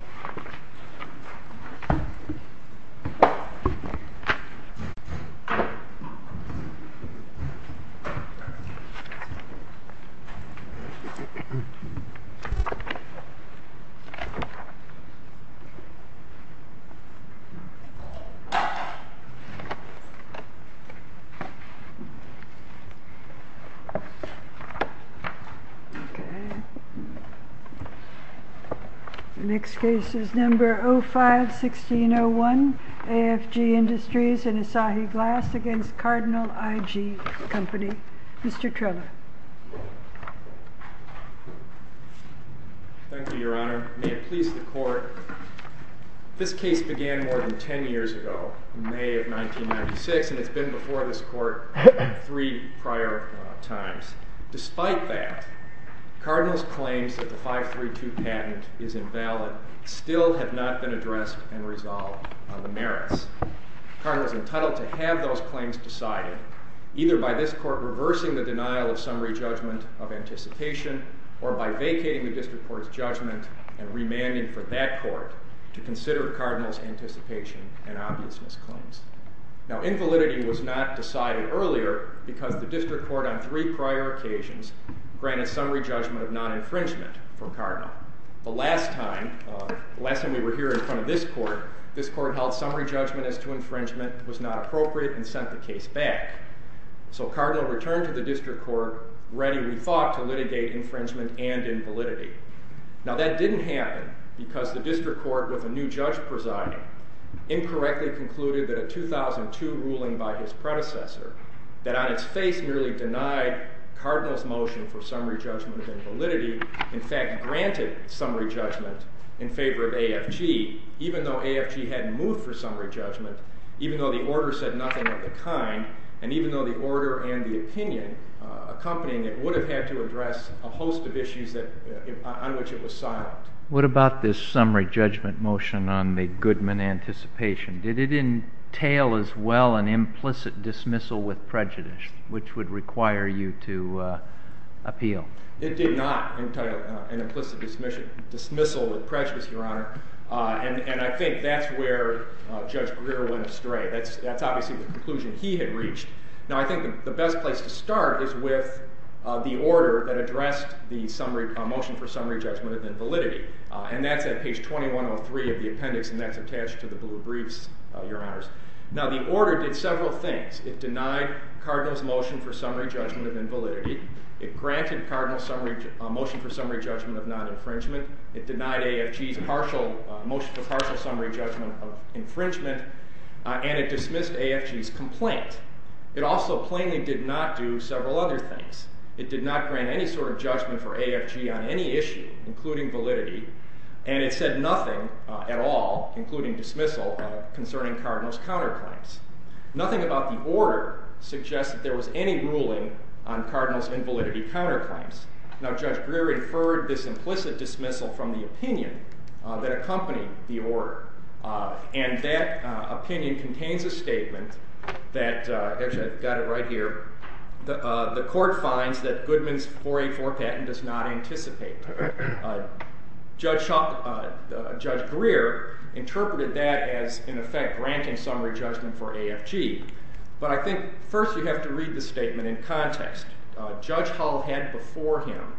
Case firing Ok Next case is number 05-1601 AFG Industries and Asahi Glass against Cardinal I.G. Company. Mr. Trella. Thank you, your honor. May it please the court. This case began more than ten years ago, in May of 1996, and it's been before this court three prior times. Despite that, Cardinal's claims that the 532 patent is invalid still have not been addressed and resolved on the merits. Cardinal's entitled to have those claims decided, either by this court reversing the denial of summary judgment of anticipation, or by vacating the district court's judgment and remanding for that court to consider Cardinal's anticipation and obviousness claims. Now, invalidity was not decided earlier because the district court on three prior occasions granted summary judgment of non-infringement for Cardinal. The last time we were here in front of this court, this court held summary judgment as to infringement was not appropriate and sent the case back. So Cardinal returned to the district court ready, we thought, to litigate infringement and invalidity. Now that didn't happen because the district court, with a new judge presiding, incorrectly concluded that a 2002 ruling by his predecessor, that on its face merely denied Cardinal's motion for summary judgment of invalidity, in fact granted summary judgment in favor of AFG, even though AFG hadn't moved for summary judgment, even though the order said nothing of the kind, and even though the order and the opinion accompanying it would have had to address a host of issues on which it was silent. What about this summary judgment motion on the Goodman anticipation? Did it entail as well an implicit dismissal with prejudice, which would require you to appeal? It did not entail an implicit dismissal with prejudice, Your Honor, and I think that's where Judge Greer went astray. That's obviously the conclusion he had reached. Now I think the best place to start is with the order that addressed the motion for summary judgment of invalidity, and that's at page 2103 of the record. It did several things. It denied Cardinal's motion for summary judgment of invalidity. It granted Cardinal's motion for summary judgment of non-infringement. It denied AFG's motion for partial summary judgment of infringement, and it dismissed AFG's complaint. It also plainly did not do several other things. It did not grant any sort of judgment for AFG on any issue, including validity, and it said nothing at all, including dismissal, concerning Cardinal's counterclaims. Nothing about the order suggests that there was any ruling on Cardinal's invalidity counterclaims. Now Judge Greer inferred this implicit dismissal from the opinion that accompanied the order, and that opinion contains a statement that, actually I've got it right here, the interpreted that as, in effect, granting summary judgment for AFG, but I think first you have to read the statement in context. Judge Hull had before him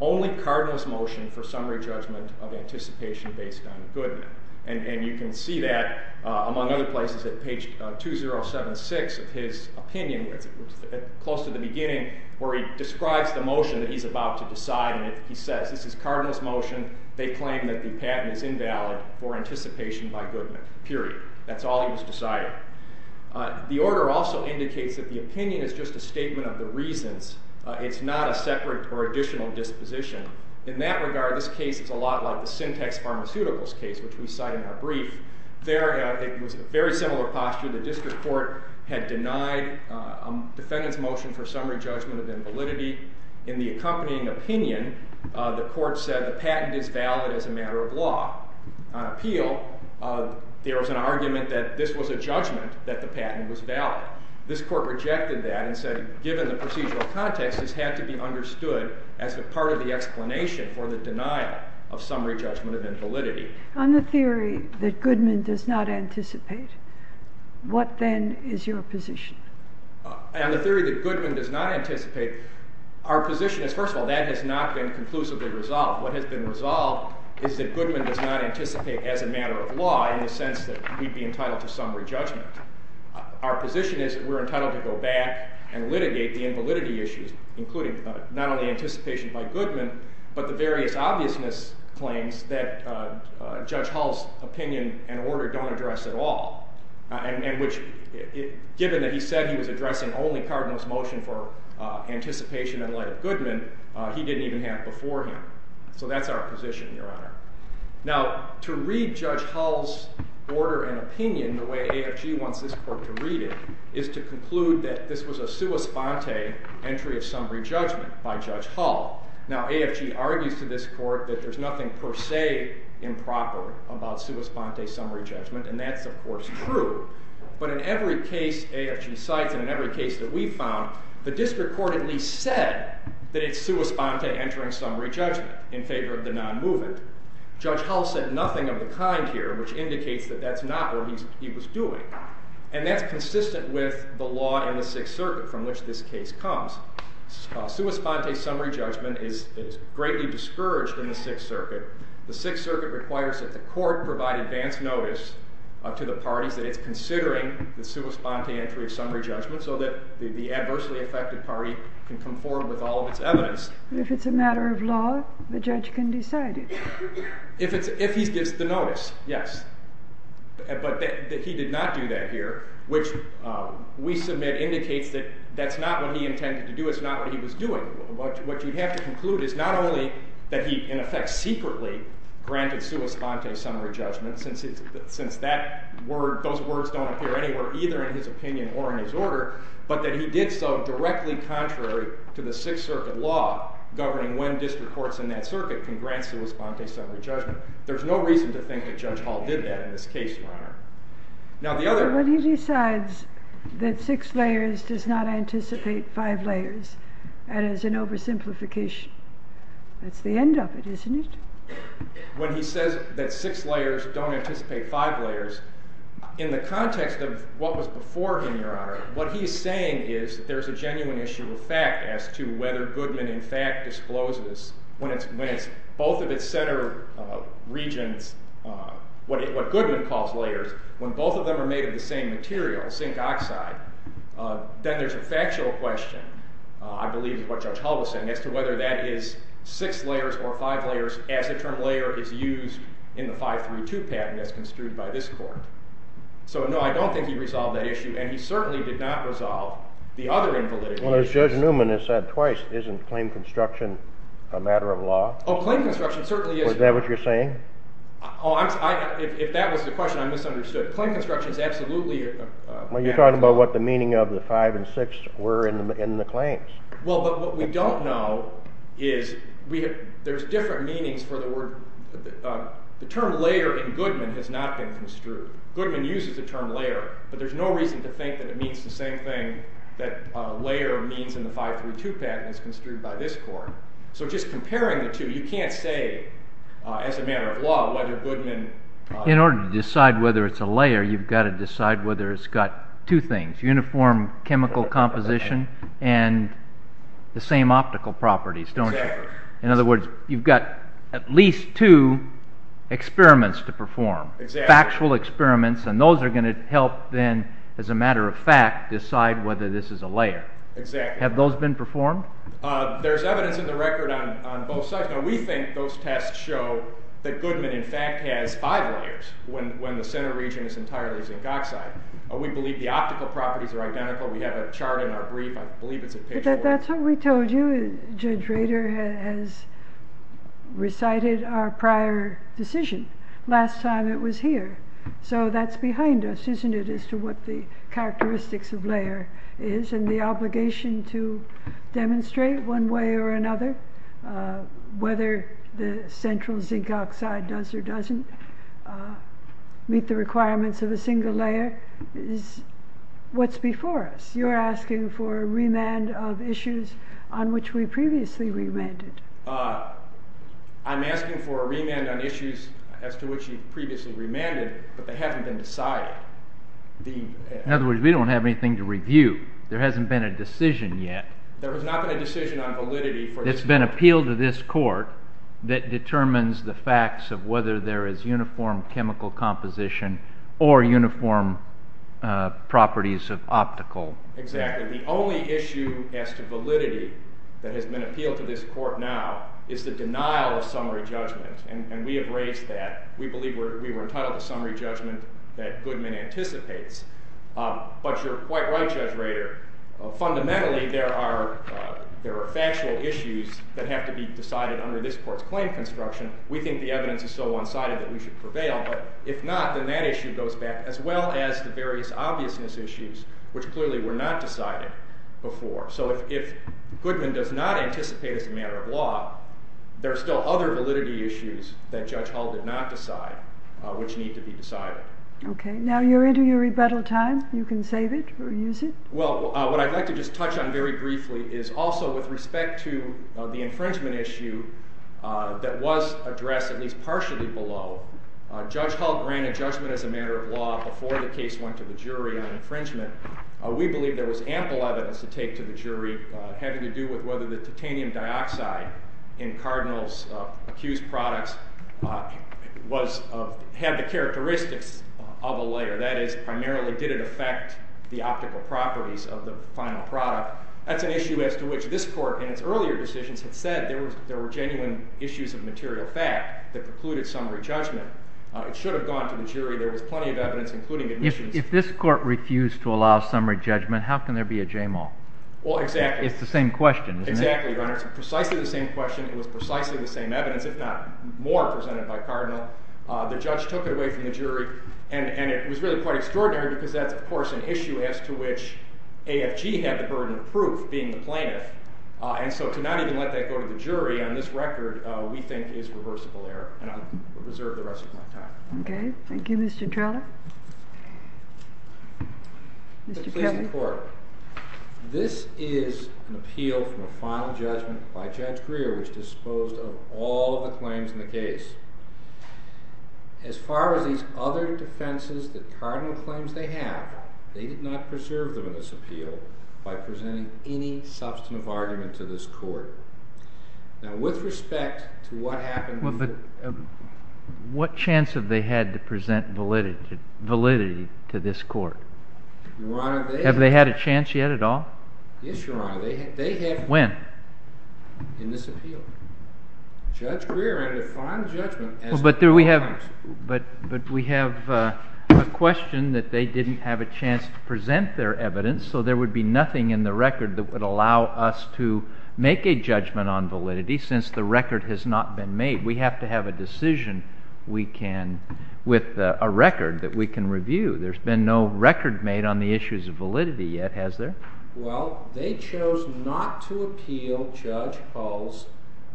only Cardinal's motion for summary judgment of anticipation based on Goodman, and you can see that, among other places, at page 2076 of his opinion, close to the beginning, where he describes the motion that he's about to decide, and he says, this is Cardinal's motion. They claim that the patent is valid as a matter of law. On appeal, Judge Greer states that the patent is valid as a matter of law. On disposition, Judge Hull states that the patent is valid as a matter of law. In that regard, this case is a lot like the Syntex Pharmaceuticals case, which we cite in our brief. There, it was a very similar posture. The district court had denied a defendant's motion for summary judgment of invalidity. In the accompanying opinion, the court said the patent is valid as a matter of law. On appeal, there was an argument that this was a judgment that the patent was valid. This court rejected that and said, given the procedural context, this had to be understood as a part of the explanation for the denial of summary judgment of invalidity. On the theory that Goodman does not anticipate, what then is your position? On the theory that Goodman does not anticipate, our position is, first of all, that has not been conclusively resolved. What has been resolved is that Goodman does not anticipate as a matter of law in the sense that we'd be entitled to summary judgment. Our position is that we're entitled to go back and litigate the invalidity issues, including not only anticipation by Goodman, but the various obviousness claims that Judge Hull's opinion and order don't address at all, and which, given that he said he was addressing only Cardinal's motion for anticipation in light of Goodman. So that's our position, Your Honor. Now, to read Judge Hull's order and opinion the way AFG wants this court to read it is to conclude that this was a sua sponte entry of summary judgment by Judge Hull. Now, AFG argues to this court that there's nothing per se improper about sua sponte summary judgment, and that's, of course, true. But in every case AFG cites, and in every case that we've found, the district court at least said that it's sua sponte entering summary judgment in favor of the non-movement. Judge Hull said nothing of the kind here, which indicates that that's not what he was doing. And that's consistent with the law in the Sixth Circuit from which this case comes. Sua sponte summary judgment is greatly discouraged in the Sixth Circuit. The Sixth Circuit requires that the court provide advance notice to the parties that it's considering the sua sponte entry of summary judgment so that the adversely affected party can come forward with all of its evidence. But if it's a matter of law, the judge can decide it. If he gives the notice, yes. But he did not do that here, which we submit indicates that that's not what he intended to do. It's not what he was doing. What you'd have to conclude is not only that he, in effect, secretly granted sua sponte summary judgment, since those words don't appear anywhere either in his opinion or in his order, but that he did so directly contrary to the Sixth Circuit law, governing when district courts in that circuit can grant sua sponte summary judgment. There's no reason to think that Judge Hull did that in this case, Your Honor. When he decides that six layers does not anticipate five layers, that is an oversimplification. That's the end of it, isn't it? When he says that six layers don't anticipate five layers, in the context of what was before him, Your Honor, what he's saying is there's a genuine issue of fact as to whether Goodman, in fact, discloses, when both of its center regions, what Goodman calls layers, when both of them are made of the same material, zinc oxide, then there's a factual question, I believe is what Judge Hull was saying, as to whether that is six layers or five layers as the term layer is used in the 532 patent as construed by this court. So, no, I don't think he resolved that issue, and he certainly did not resolve the other invalidity issues. Judge Newman has said twice, isn't claim construction a matter of law? Oh, claim construction certainly is. Is that what you're saying? If that was the question, I misunderstood. Claim construction is absolutely a matter of law. Well, you're talking about what the meaning of the five and six were in the claims. Well, but what we don't know is there's different meanings for the word. The term layer in Goodman has not been construed. Goodman uses the term layer, but there's no reason to think that it means the same thing, that layer means in the 532 patent as construed by this court. So just comparing the two, you can't say as a matter of law whether Goodman... In order to decide whether it's a layer, you've got to decide whether it's got two things, uniform chemical composition and the same optical properties, don't you? Exactly. In other words, you've got at least two experiments to perform, factual experiments, and those are going to help then, as a matter of fact, decide whether this is a layer. Exactly. Have those been performed? There's evidence in the record on both sides. Now, we think those tests show that Goodman in fact has five layers when the center region is entirely zinc oxide. We believe the optical properties are identical. We have a chart in our brief. I believe it's in page 4. That's what we told you. Judge Rader has recited our prior decision last time it was here. So that's behind us, isn't it, as to what the characteristics of layer is and the obligation to demonstrate one way or another whether the central zinc oxide does or doesn't meet the requirements of a single layer is what's before us. You're asking for a remand of issues on which we previously remanded. I'm asking for a remand on issues as to which you previously remanded, but they haven't been decided. In other words, we don't have anything to review. There hasn't been a decision yet. There has not been a decision on validity. It's been appealed to this court that determines the facts of whether there is uniform chemical composition or uniform properties of optical. Exactly. The only issue as to validity that has been appealed to this court now is the denial of summary judgment, and we have raised that. We believe we were entitled to summary judgment that Goodman anticipates. But you're quite right, Judge Rader. Fundamentally, there are factual issues that have to be decided under this court's claim construction. We think the evidence is so one-sided that we should prevail. But if not, then that issue goes back, as well as the various obviousness issues, which clearly were not decided before. So if Goodman does not anticipate as a matter of law, there are still other validity issues that Judge Hull did not decide which need to be decided. Okay. Now you're into your rebuttal time. You can save it or use it. Well, what I'd like to just touch on very briefly is also with respect to the infringement issue that was addressed at least partially below. Judge Hull granted judgment as a matter of law before the case went to the jury on infringement. We believe there was ample evidence to take to the jury having to do with whether the titanium dioxide in Cardinal's accused products had the characteristics of a layer. That is, primarily, did it affect the optical properties of the final product? That's an issue as to which this court in its earlier decisions had said there were genuine issues of material fact that precluded summary judgment. It should have gone to the jury. There was plenty of evidence, including admissions. If this court refused to allow summary judgment, how can there be a JAMAL? Well, exactly. It's the same question, isn't it? Exactly, Your Honor. It's precisely the same question. It was precisely the same evidence, if not more, presented by Cardinal. The judge took it away from the jury. And it was really quite extraordinary because that's, of course, an issue as to which AFG had the burden of proof being the plaintiff. And so to not even let that go to the jury on this record, we think is reversible error. And I'll reserve the rest of my time. Okay. Thank you, Mr. Treloar. Mr. Kevin. This is an appeal from a final judgment by Judge Greer, which disposed of all the claims in the case. As far as these other defenses, the cardinal claims they have, they did not preserve them in this appeal by presenting any substantive Now, with respect to what happened with the- What chance have they had to present validity to this court? Your Honor, they- Have they had a chance yet at all? Yes, Your Honor. They have- When? In this appeal. Judge Greer, under final judgment- But we have a question that they didn't have a chance to present their evidence, so there would be nothing in the record that would allow us to make a judgment on validity since the record has not been made. We have to have a decision with a record that we can review. There's been no record made on the issues of validity yet, has there? Well, they chose not to appeal Judge Hull's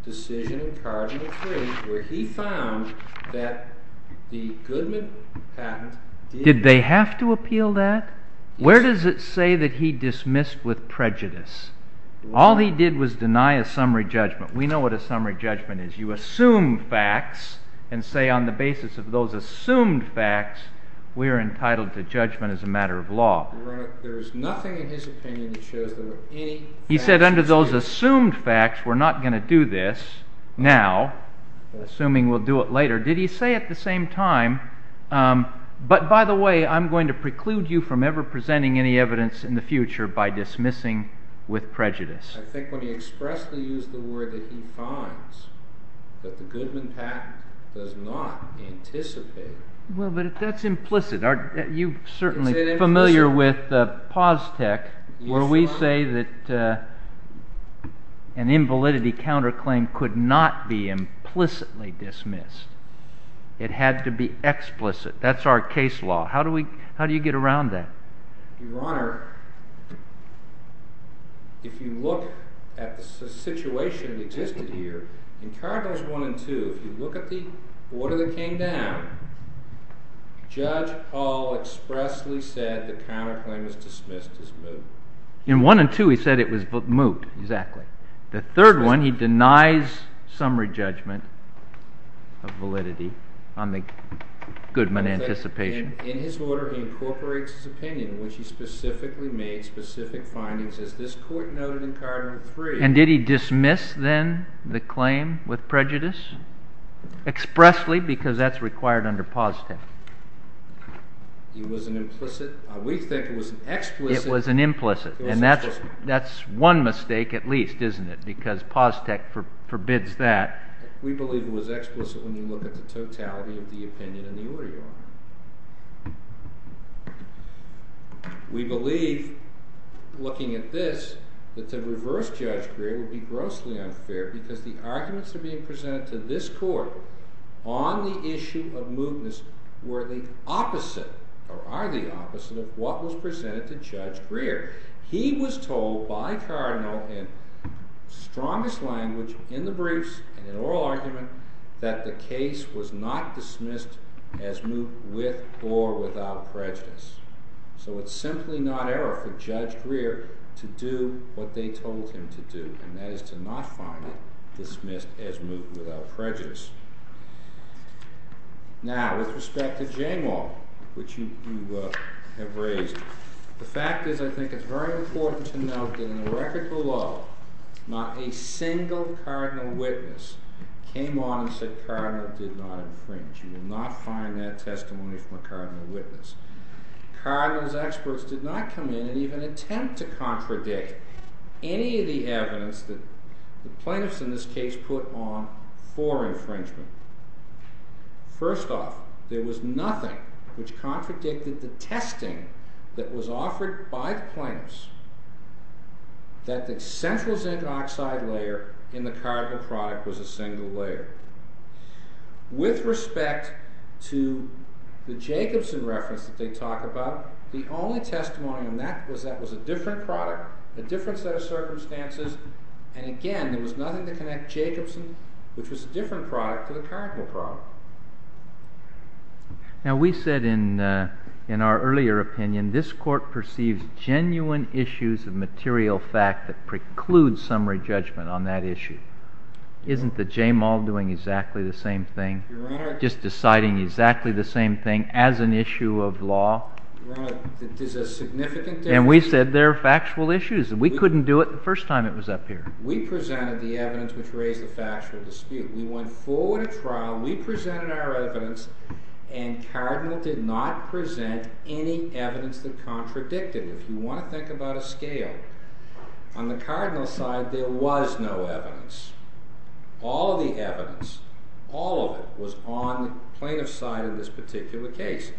decision in cardinal three where he found that the Goodman patent did- Did they have to appeal that? Where does it say that he dismissed with prejudice? All he did was deny a summary judgment. We know what a summary judgment is. You assume facts and say on the basis of those assumed facts we are entitled to judgment as a matter of law. Your Honor, there is nothing in his opinion that shows there were any- He said under those assumed facts we're not going to do this now, assuming we'll do it later. Did he say at the same time, but by the way I'm going to preclude you from ever presenting any evidence in the future by dismissing with prejudice? I think when he expressly used the word that he finds that the Goodman patent does not anticipate- Well, but that's implicit. You're certainly familiar with POS-TEC where we say that an invalidity counterclaim could not be implicitly dismissed. It had to be explicit. That's our case law. How do you get around that? Your Honor, if you look at the situation that existed here, in Cardinals 1 and 2, if you look at the order that came down, Judge Hall expressly said the counterclaim was dismissed as moot. In 1 and 2 he said it was moot, exactly. The third one he denies summary judgment of validity on the Goodman anticipation. And in his order he incorporates his opinion, in which he specifically made specific findings, as this Court noted in Cardinal 3. And did he dismiss then the claim with prejudice? Expressly, because that's required under POS-TEC. It was an implicit. We think it was an explicit. It was an implicit. And that's one mistake at least, isn't it? Because POS-TEC forbids that. We believe it was explicit when you look at the totality of the opinion and the order, Your Honor. We believe, looking at this, that to reverse Judge Greer would be grossly unfair because the arguments that are being presented to this Court on the issue of mootness were the opposite, or are the opposite of what was presented to Judge Greer. He was told by Cardinal in strongest language in the briefs and in oral argument that the case was not dismissed as moot with or without prejudice. So it's simply not error for Judge Greer to do what they told him to do, and that is to not find it dismissed as moot without prejudice. Now, with respect to Jane Wall, which you have raised, the fact is I think it's very important to note that in the record below not a single Cardinal witness came on and said Cardinal did not infringe. You will not find that testimony from a Cardinal witness. Cardinal's experts did not come in and even attempt to contradict any of the evidence that the plaintiffs in this case put on for infringement. First off, there was nothing which contradicted the testing that was offered by the plaintiffs that the central zinc oxide layer in the Cardinal product was a single layer. With respect to the Jacobson reference that they talk about, the only testimony on that was that it was a different product, a different set of circumstances, and again there was nothing to connect Jacobson, which was a different product, to the Cardinal product. Now, we said in our earlier opinion this Court perceives genuine issues of material fact that preclude summary judgment on that issue. Isn't the Jane Wall doing exactly the same thing, just deciding exactly the same thing as an issue of law? Your Honor, there's a significant difference. And we said there are factual issues. We couldn't do it the first time it was up here. We presented the evidence which raised the factual dispute. We went forward at trial, we presented our evidence, and Cardinal did not present any evidence that contradicted it. If you want to think about a scale, on the Cardinal side there was no evidence. All of the evidence, all of it, was on the plaintiff's side in this particular case.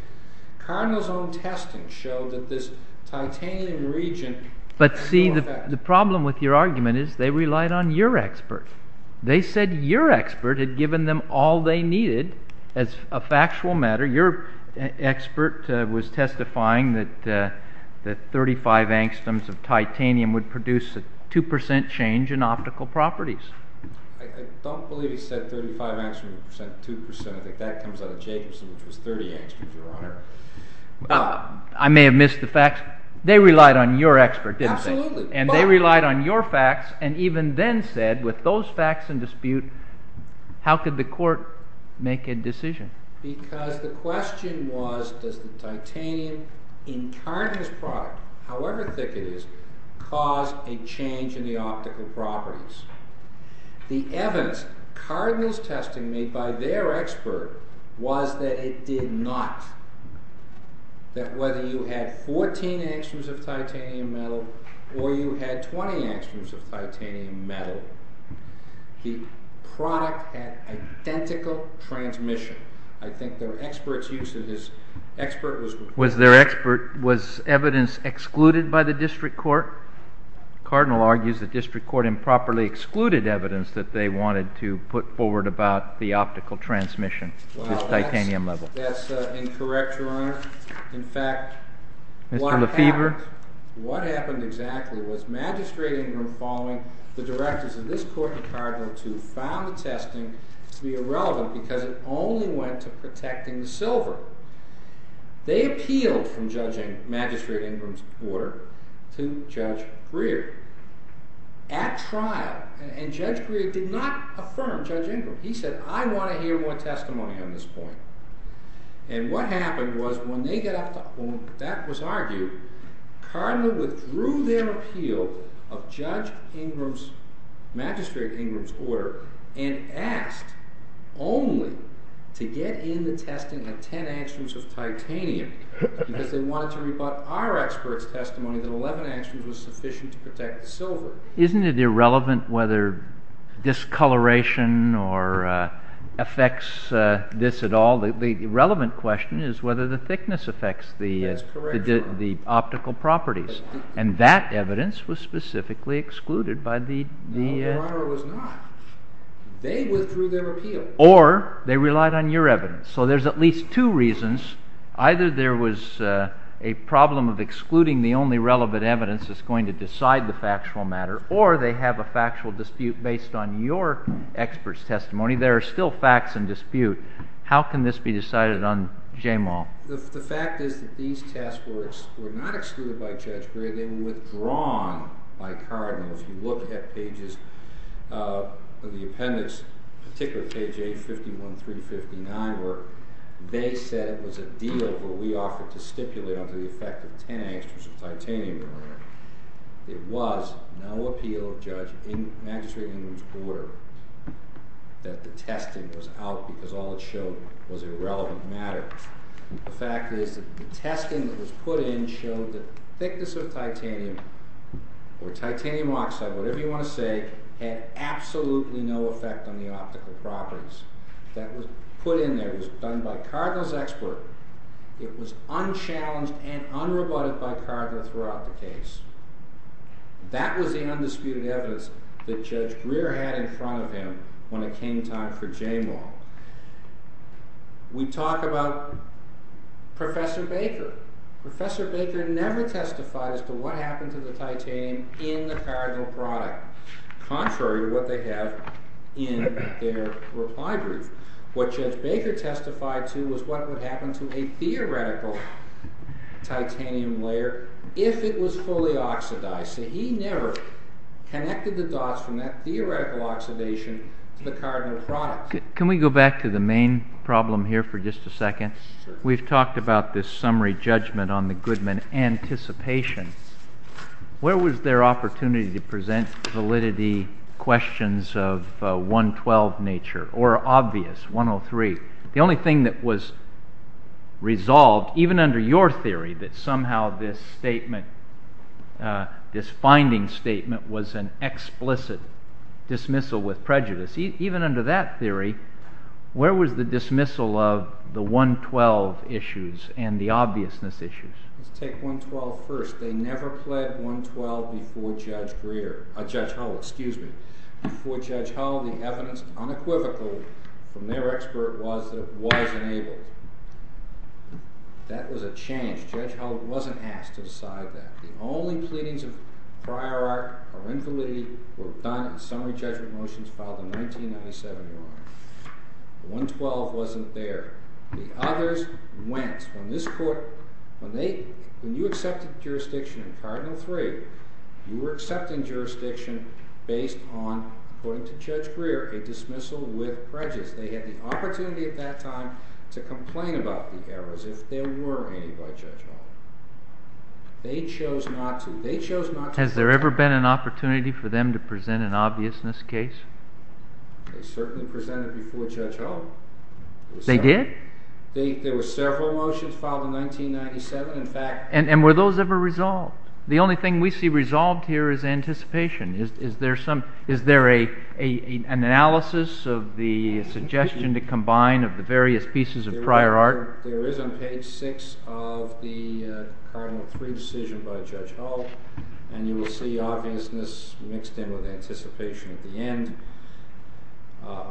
Cardinal's own testing showed that this titanium region... But see, the problem with your argument is they relied on your expert. They said your expert had given them all they needed as a factual matter. Your expert was testifying that 35 angstoms of titanium would produce a 2% change in optical properties. I don't believe he said 35 angstoms, 2%. I think that comes out of Jacobson, which was 30 angstoms, Your Honor. I may have missed the facts. They relied on your expert, didn't they? Absolutely. And they relied on your facts, and even then said, with those facts in dispute, how could the court make a decision? Because the question was, does the titanium in Cardinal's product, however thick it is, cause a change in the optical properties? The evidence Cardinal's testing made by their expert was that it did not. That whether you had 14 angstoms of titanium metal or you had 20 angstoms of titanium metal, the product had identical transmission. I think their expert's use of his expert was... Was evidence excluded by the district court? Cardinal argues the district court improperly excluded evidence that they wanted to put forward about the optical transmission to titanium level. That's incorrect, Your Honor. In fact, what happened exactly was Magistrate Ingram, following the directors of this court in Cardinal II, found the testing to be irrelevant because it only went to protecting the silver. They appealed from judging Magistrate Ingram's order to Judge Greer at trial, and Judge Greer did not affirm Judge Ingram. He said, I want to hear more testimony on this point. And what happened was when that was argued, Cardinal withdrew their appeal of Magistrate Ingram's order and asked only to get in the testing on 10 angstoms of titanium because they wanted to rebut our expert's testimony that 11 angstoms was sufficient to protect the silver. Isn't it irrelevant whether discoloration affects this at all? The relevant question is whether the thickness affects the optical properties. And that evidence was specifically excluded by the... No, Your Honor, it was not. They withdrew their appeal. Or they relied on your evidence. So there's at least two reasons. Either there was a problem of excluding the only relevant evidence that's going to decide the factual matter, or they have a factual dispute based on your expert's testimony. There are still facts in dispute. How can this be decided on Jamal? The fact is that these test works were not excluded by Judge Greer. They were withdrawn by Cardinals. You look at pages of the appendix, particularly page 851, 359, where they said it was a deal where we offered to stipulate under the effect of 10 angstoms of titanium, Your Honor. It was no appeal, Judge, in Magistrate Ingram's order, that the testing was out because all it showed was irrelevant matter. The fact is that the testing that was put in showed that the thickness of titanium, or titanium oxide, whatever you want to say, had absolutely no effect on the optical properties. That was put in there. It was done by Cardinals' expert. It was unchallenged and unrebutted by Cardinals throughout the case. That was the undisputed evidence that Judge Greer had in front of him when it came time for Jamal. We talk about Professor Baker. Professor Baker never testified as to what happened to the titanium in the Cardinal product, contrary to what they have in their reply brief. What Judge Baker testified to was what would happen to a theoretical titanium layer if it was fully oxidized. He never connected the dots from that theoretical oxidation to the Cardinal product. Can we go back to the main problem here for just a second? We've talked about this summary judgment on the Goodman anticipation. Where was their opportunity to present validity questions of 112 nature, or obvious, 103? The only thing that was resolved, even under your theory, that somehow this finding statement was an explicit dismissal with prejudice, even under that theory, where was the dismissal of the 112 issues and the obviousness issues? Let's take 112 first. They never pled 112 before Judge Hull. Before Judge Hull, the evidence unequivocal from their expert was that it was enabled. That was a change. Judge Hull wasn't asked to decide that. The only pleadings of prior art or infallibility were done in summary judgment motions filed in 1997. 112 wasn't there. The others went. When you accepted jurisdiction in Cardinal III, you were accepting jurisdiction based on, according to Judge Greer, a dismissal with prejudice. They had the opportunity at that time to complain about the errors if there were any by Judge Hull. They chose not to. Has there ever been an opportunity for them to present an obviousness case? They certainly presented before Judge Hull. They did? There were several motions filed in 1997. And were those ever resolved? The only thing we see resolved here is anticipation. Is there an analysis of the suggestion to combine of the various pieces of prior art? There is on page 6 of the Cardinal III decision by Judge Hull, and you will see obviousness mixed in with anticipation at the end.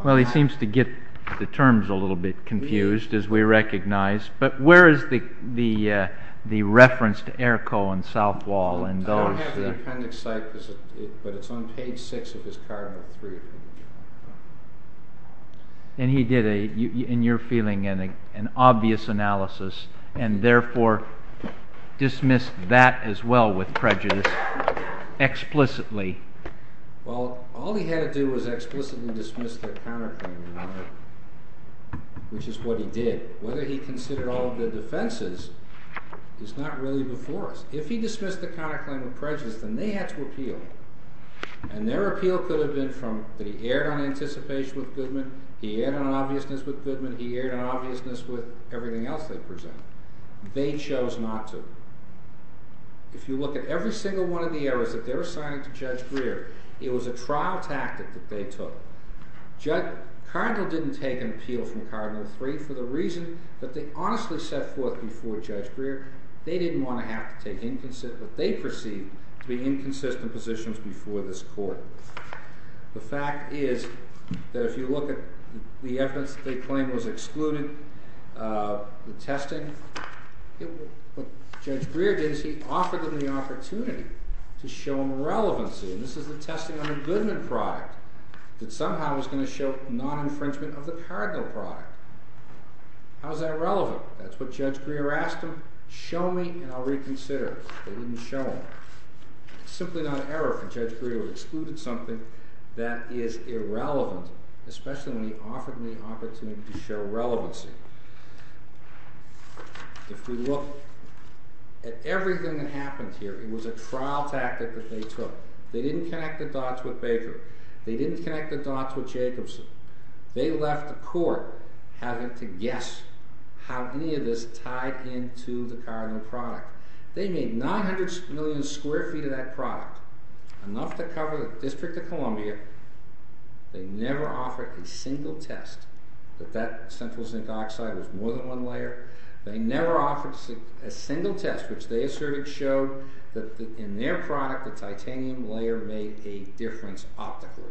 Well, he seems to get the terms a little bit confused, as we recognize. But where is the reference to Errico and Southwall and those? I don't have the appendix site, but it's on page 6 of his Cardinal III. And he did, in your feeling, an obvious analysis, and therefore dismissed that as well with prejudice explicitly. Well, all he had to do was explicitly dismiss the counterclaim, which is what he did. Whether he considered all of their defenses is not really before us. If he dismissed the counterclaim with prejudice, then they had to appeal. And their appeal could have been that he erred on anticipation with Goodman, he erred on obviousness with Goodman, he erred on obviousness with everything else they presented. They chose not to. If you look at every single one of the errors that they're assigning to Judge Greer, it was a trial tactic that they took. Cardinal didn't take an appeal from Cardinal III for the reason that they honestly set forth before Judge Greer, they didn't want to have to take what they perceived to be inconsistent positions before this Court. The fact is that if you look at the evidence that they claimed was excluded, the testing, what Judge Greer did is he offered them the opportunity to show them relevancy. And this is the testing on the Goodman product that somehow was going to show non-infringement of the Cardinal product. How is that relevant? That's what Judge Greer asked them. Show me and I'll reconsider. They didn't show him. It's simply not an error for Judge Greer to exclude something that is irrelevant, especially when he offered them the opportunity to show relevancy. If we look at everything that happened here, it was a trial tactic that they took. They didn't connect the dots with Baker. They didn't connect the dots with Jacobson. They left the Court having to guess how any of this tied into the Cardinal product. They made 900 million square feet of that product, enough to cover the District of Columbia. They never offered a single test that that central zinc oxide was more than one layer. They never offered a single test which they asserted showed that in their product the titanium layer made a difference optically,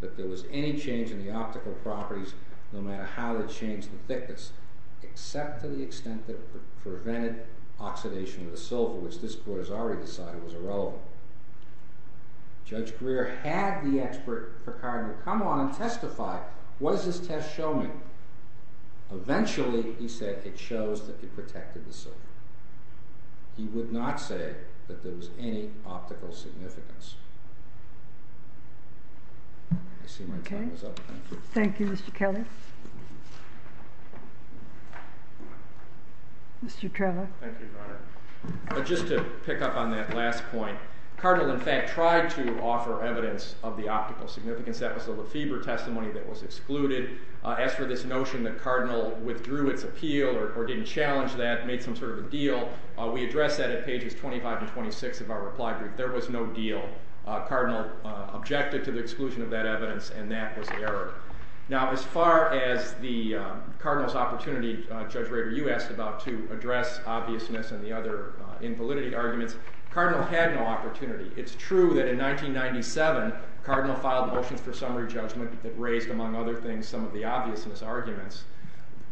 that there was any change in the optical properties, no matter how they changed the thickness, except to the extent that it prevented oxidation of the silver, which this Court has already decided was irrelevant. Judge Greer had the expert Cardinal come on and testify. What does this test show me? Eventually, he said, it shows that it protected the silver. He would not say that there was any optical significance. I see my time is up. Thank you. Thank you, Mr. Kelly. Mr. Trevor. Thank you, Your Honor. Just to pick up on that last point, Cardinal, in fact, tried to offer evidence of the optical significance. That was the Lefebvre testimony that was excluded. As for this notion that Cardinal withdrew its appeal or didn't challenge that, made some sort of a deal, we address that at pages 25 to 26 of our reply brief. There was no deal. Cardinal objected to the exclusion of that evidence, and that was the error. Now, as far as Cardinal's opportunity, Judge Rader, you asked about to address obviousness and the other invalidity arguments. Cardinal had no opportunity. It's true that in 1997, Cardinal filed motions for summary judgment that raised, among other things, some of the obviousness arguments.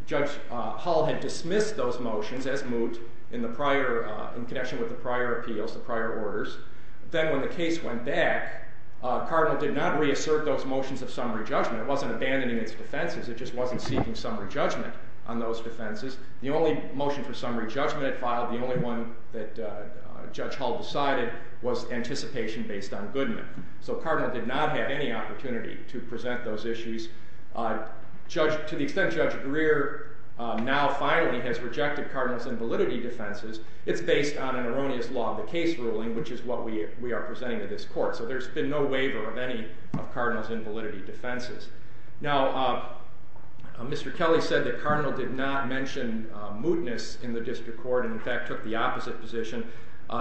Judge Hull had dismissed those motions, as moot, in connection with the prior appeals, the prior orders. Then, when the case went back, Cardinal did not reassert those motions of summary judgment. It wasn't abandoning its defenses. It just wasn't seeking summary judgment on those defenses. The only motion for summary judgment it filed, the only one that Judge Hull decided, was anticipation based on Goodman. So Cardinal did not have any opportunity to present those issues. To the extent Judge Greer now finally has rejected Cardinal's invalidity defenses, it's based on an erroneous law of the case ruling, which is what we are presenting to this court. So there's been no waiver of any of Cardinal's invalidity defenses. Now, Mr. Kelly said that Cardinal did not mention mootness in the district court, and in fact took the opposite position.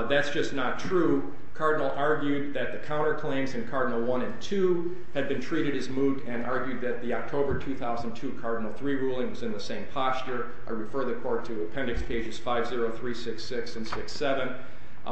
That's just not true. Cardinal argued that the counterclaims in Cardinal 1 and 2 had been treated as moot, and argued that the October 2002 Cardinal 3 ruling was in the same posture. I refer the court to Appendix Pages 5-0, 3-6-6, and 6-7.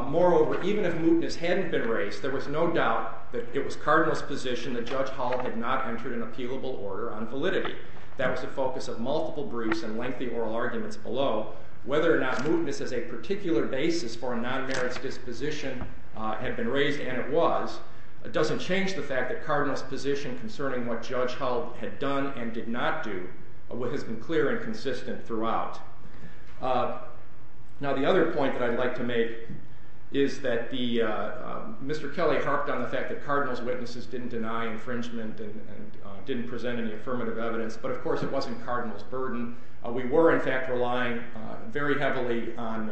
Moreover, even if mootness hadn't been raised, there was no doubt that it was Cardinal's position that Judge Hull had not entered an appealable order on validity. That was the focus of multiple briefs and lengthy oral arguments below. Whether or not mootness as a particular basis for a non-merits disposition had been raised, and it was, doesn't change the fact that Cardinal's position concerning what Judge Hull had done and did not do has been clear and consistent throughout. Now, the other point that I'd like to make is that Mr. Kelly harped on the fact that Cardinal's witnesses didn't deny infringement and didn't present any affirmative evidence, but of course it wasn't Cardinal's burden. We were, in fact, relying very heavily on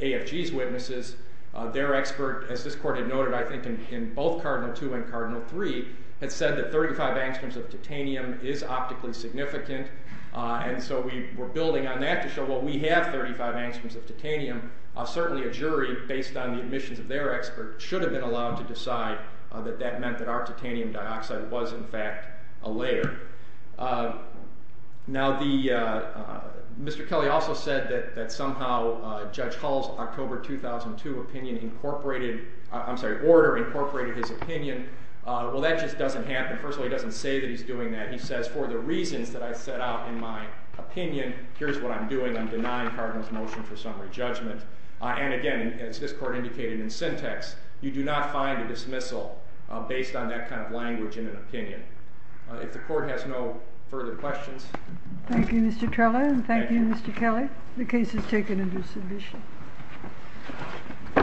AFG's witnesses. Their expert, as this court had noted, I think, in both Cardinal 2 and Cardinal 3, had said that 35 angstroms of titanium is optically significant, and so we were building on that to show, well, we have 35 angstroms of titanium. Certainly a jury, based on the admissions of their expert, should have been allowed to decide that that meant that our titanium dioxide was, in fact, a layer. Now, Mr. Kelly also said that somehow Judge Hull's October 2002 opinion incorporated... I'm sorry, order incorporated his opinion. Well, that just doesn't happen. First of all, he doesn't say that he's doing that. He says, for the reasons that I set out in my opinion, here's what I'm doing. I'm denying Cardinal's motion for summary judgment. And again, as this court indicated in syntax, you do not find a dismissal based on that kind of language in an opinion. If the court has no further questions... Thank you, Mr. Trella, and thank you, Mr. Kelly. The case is taken into submission.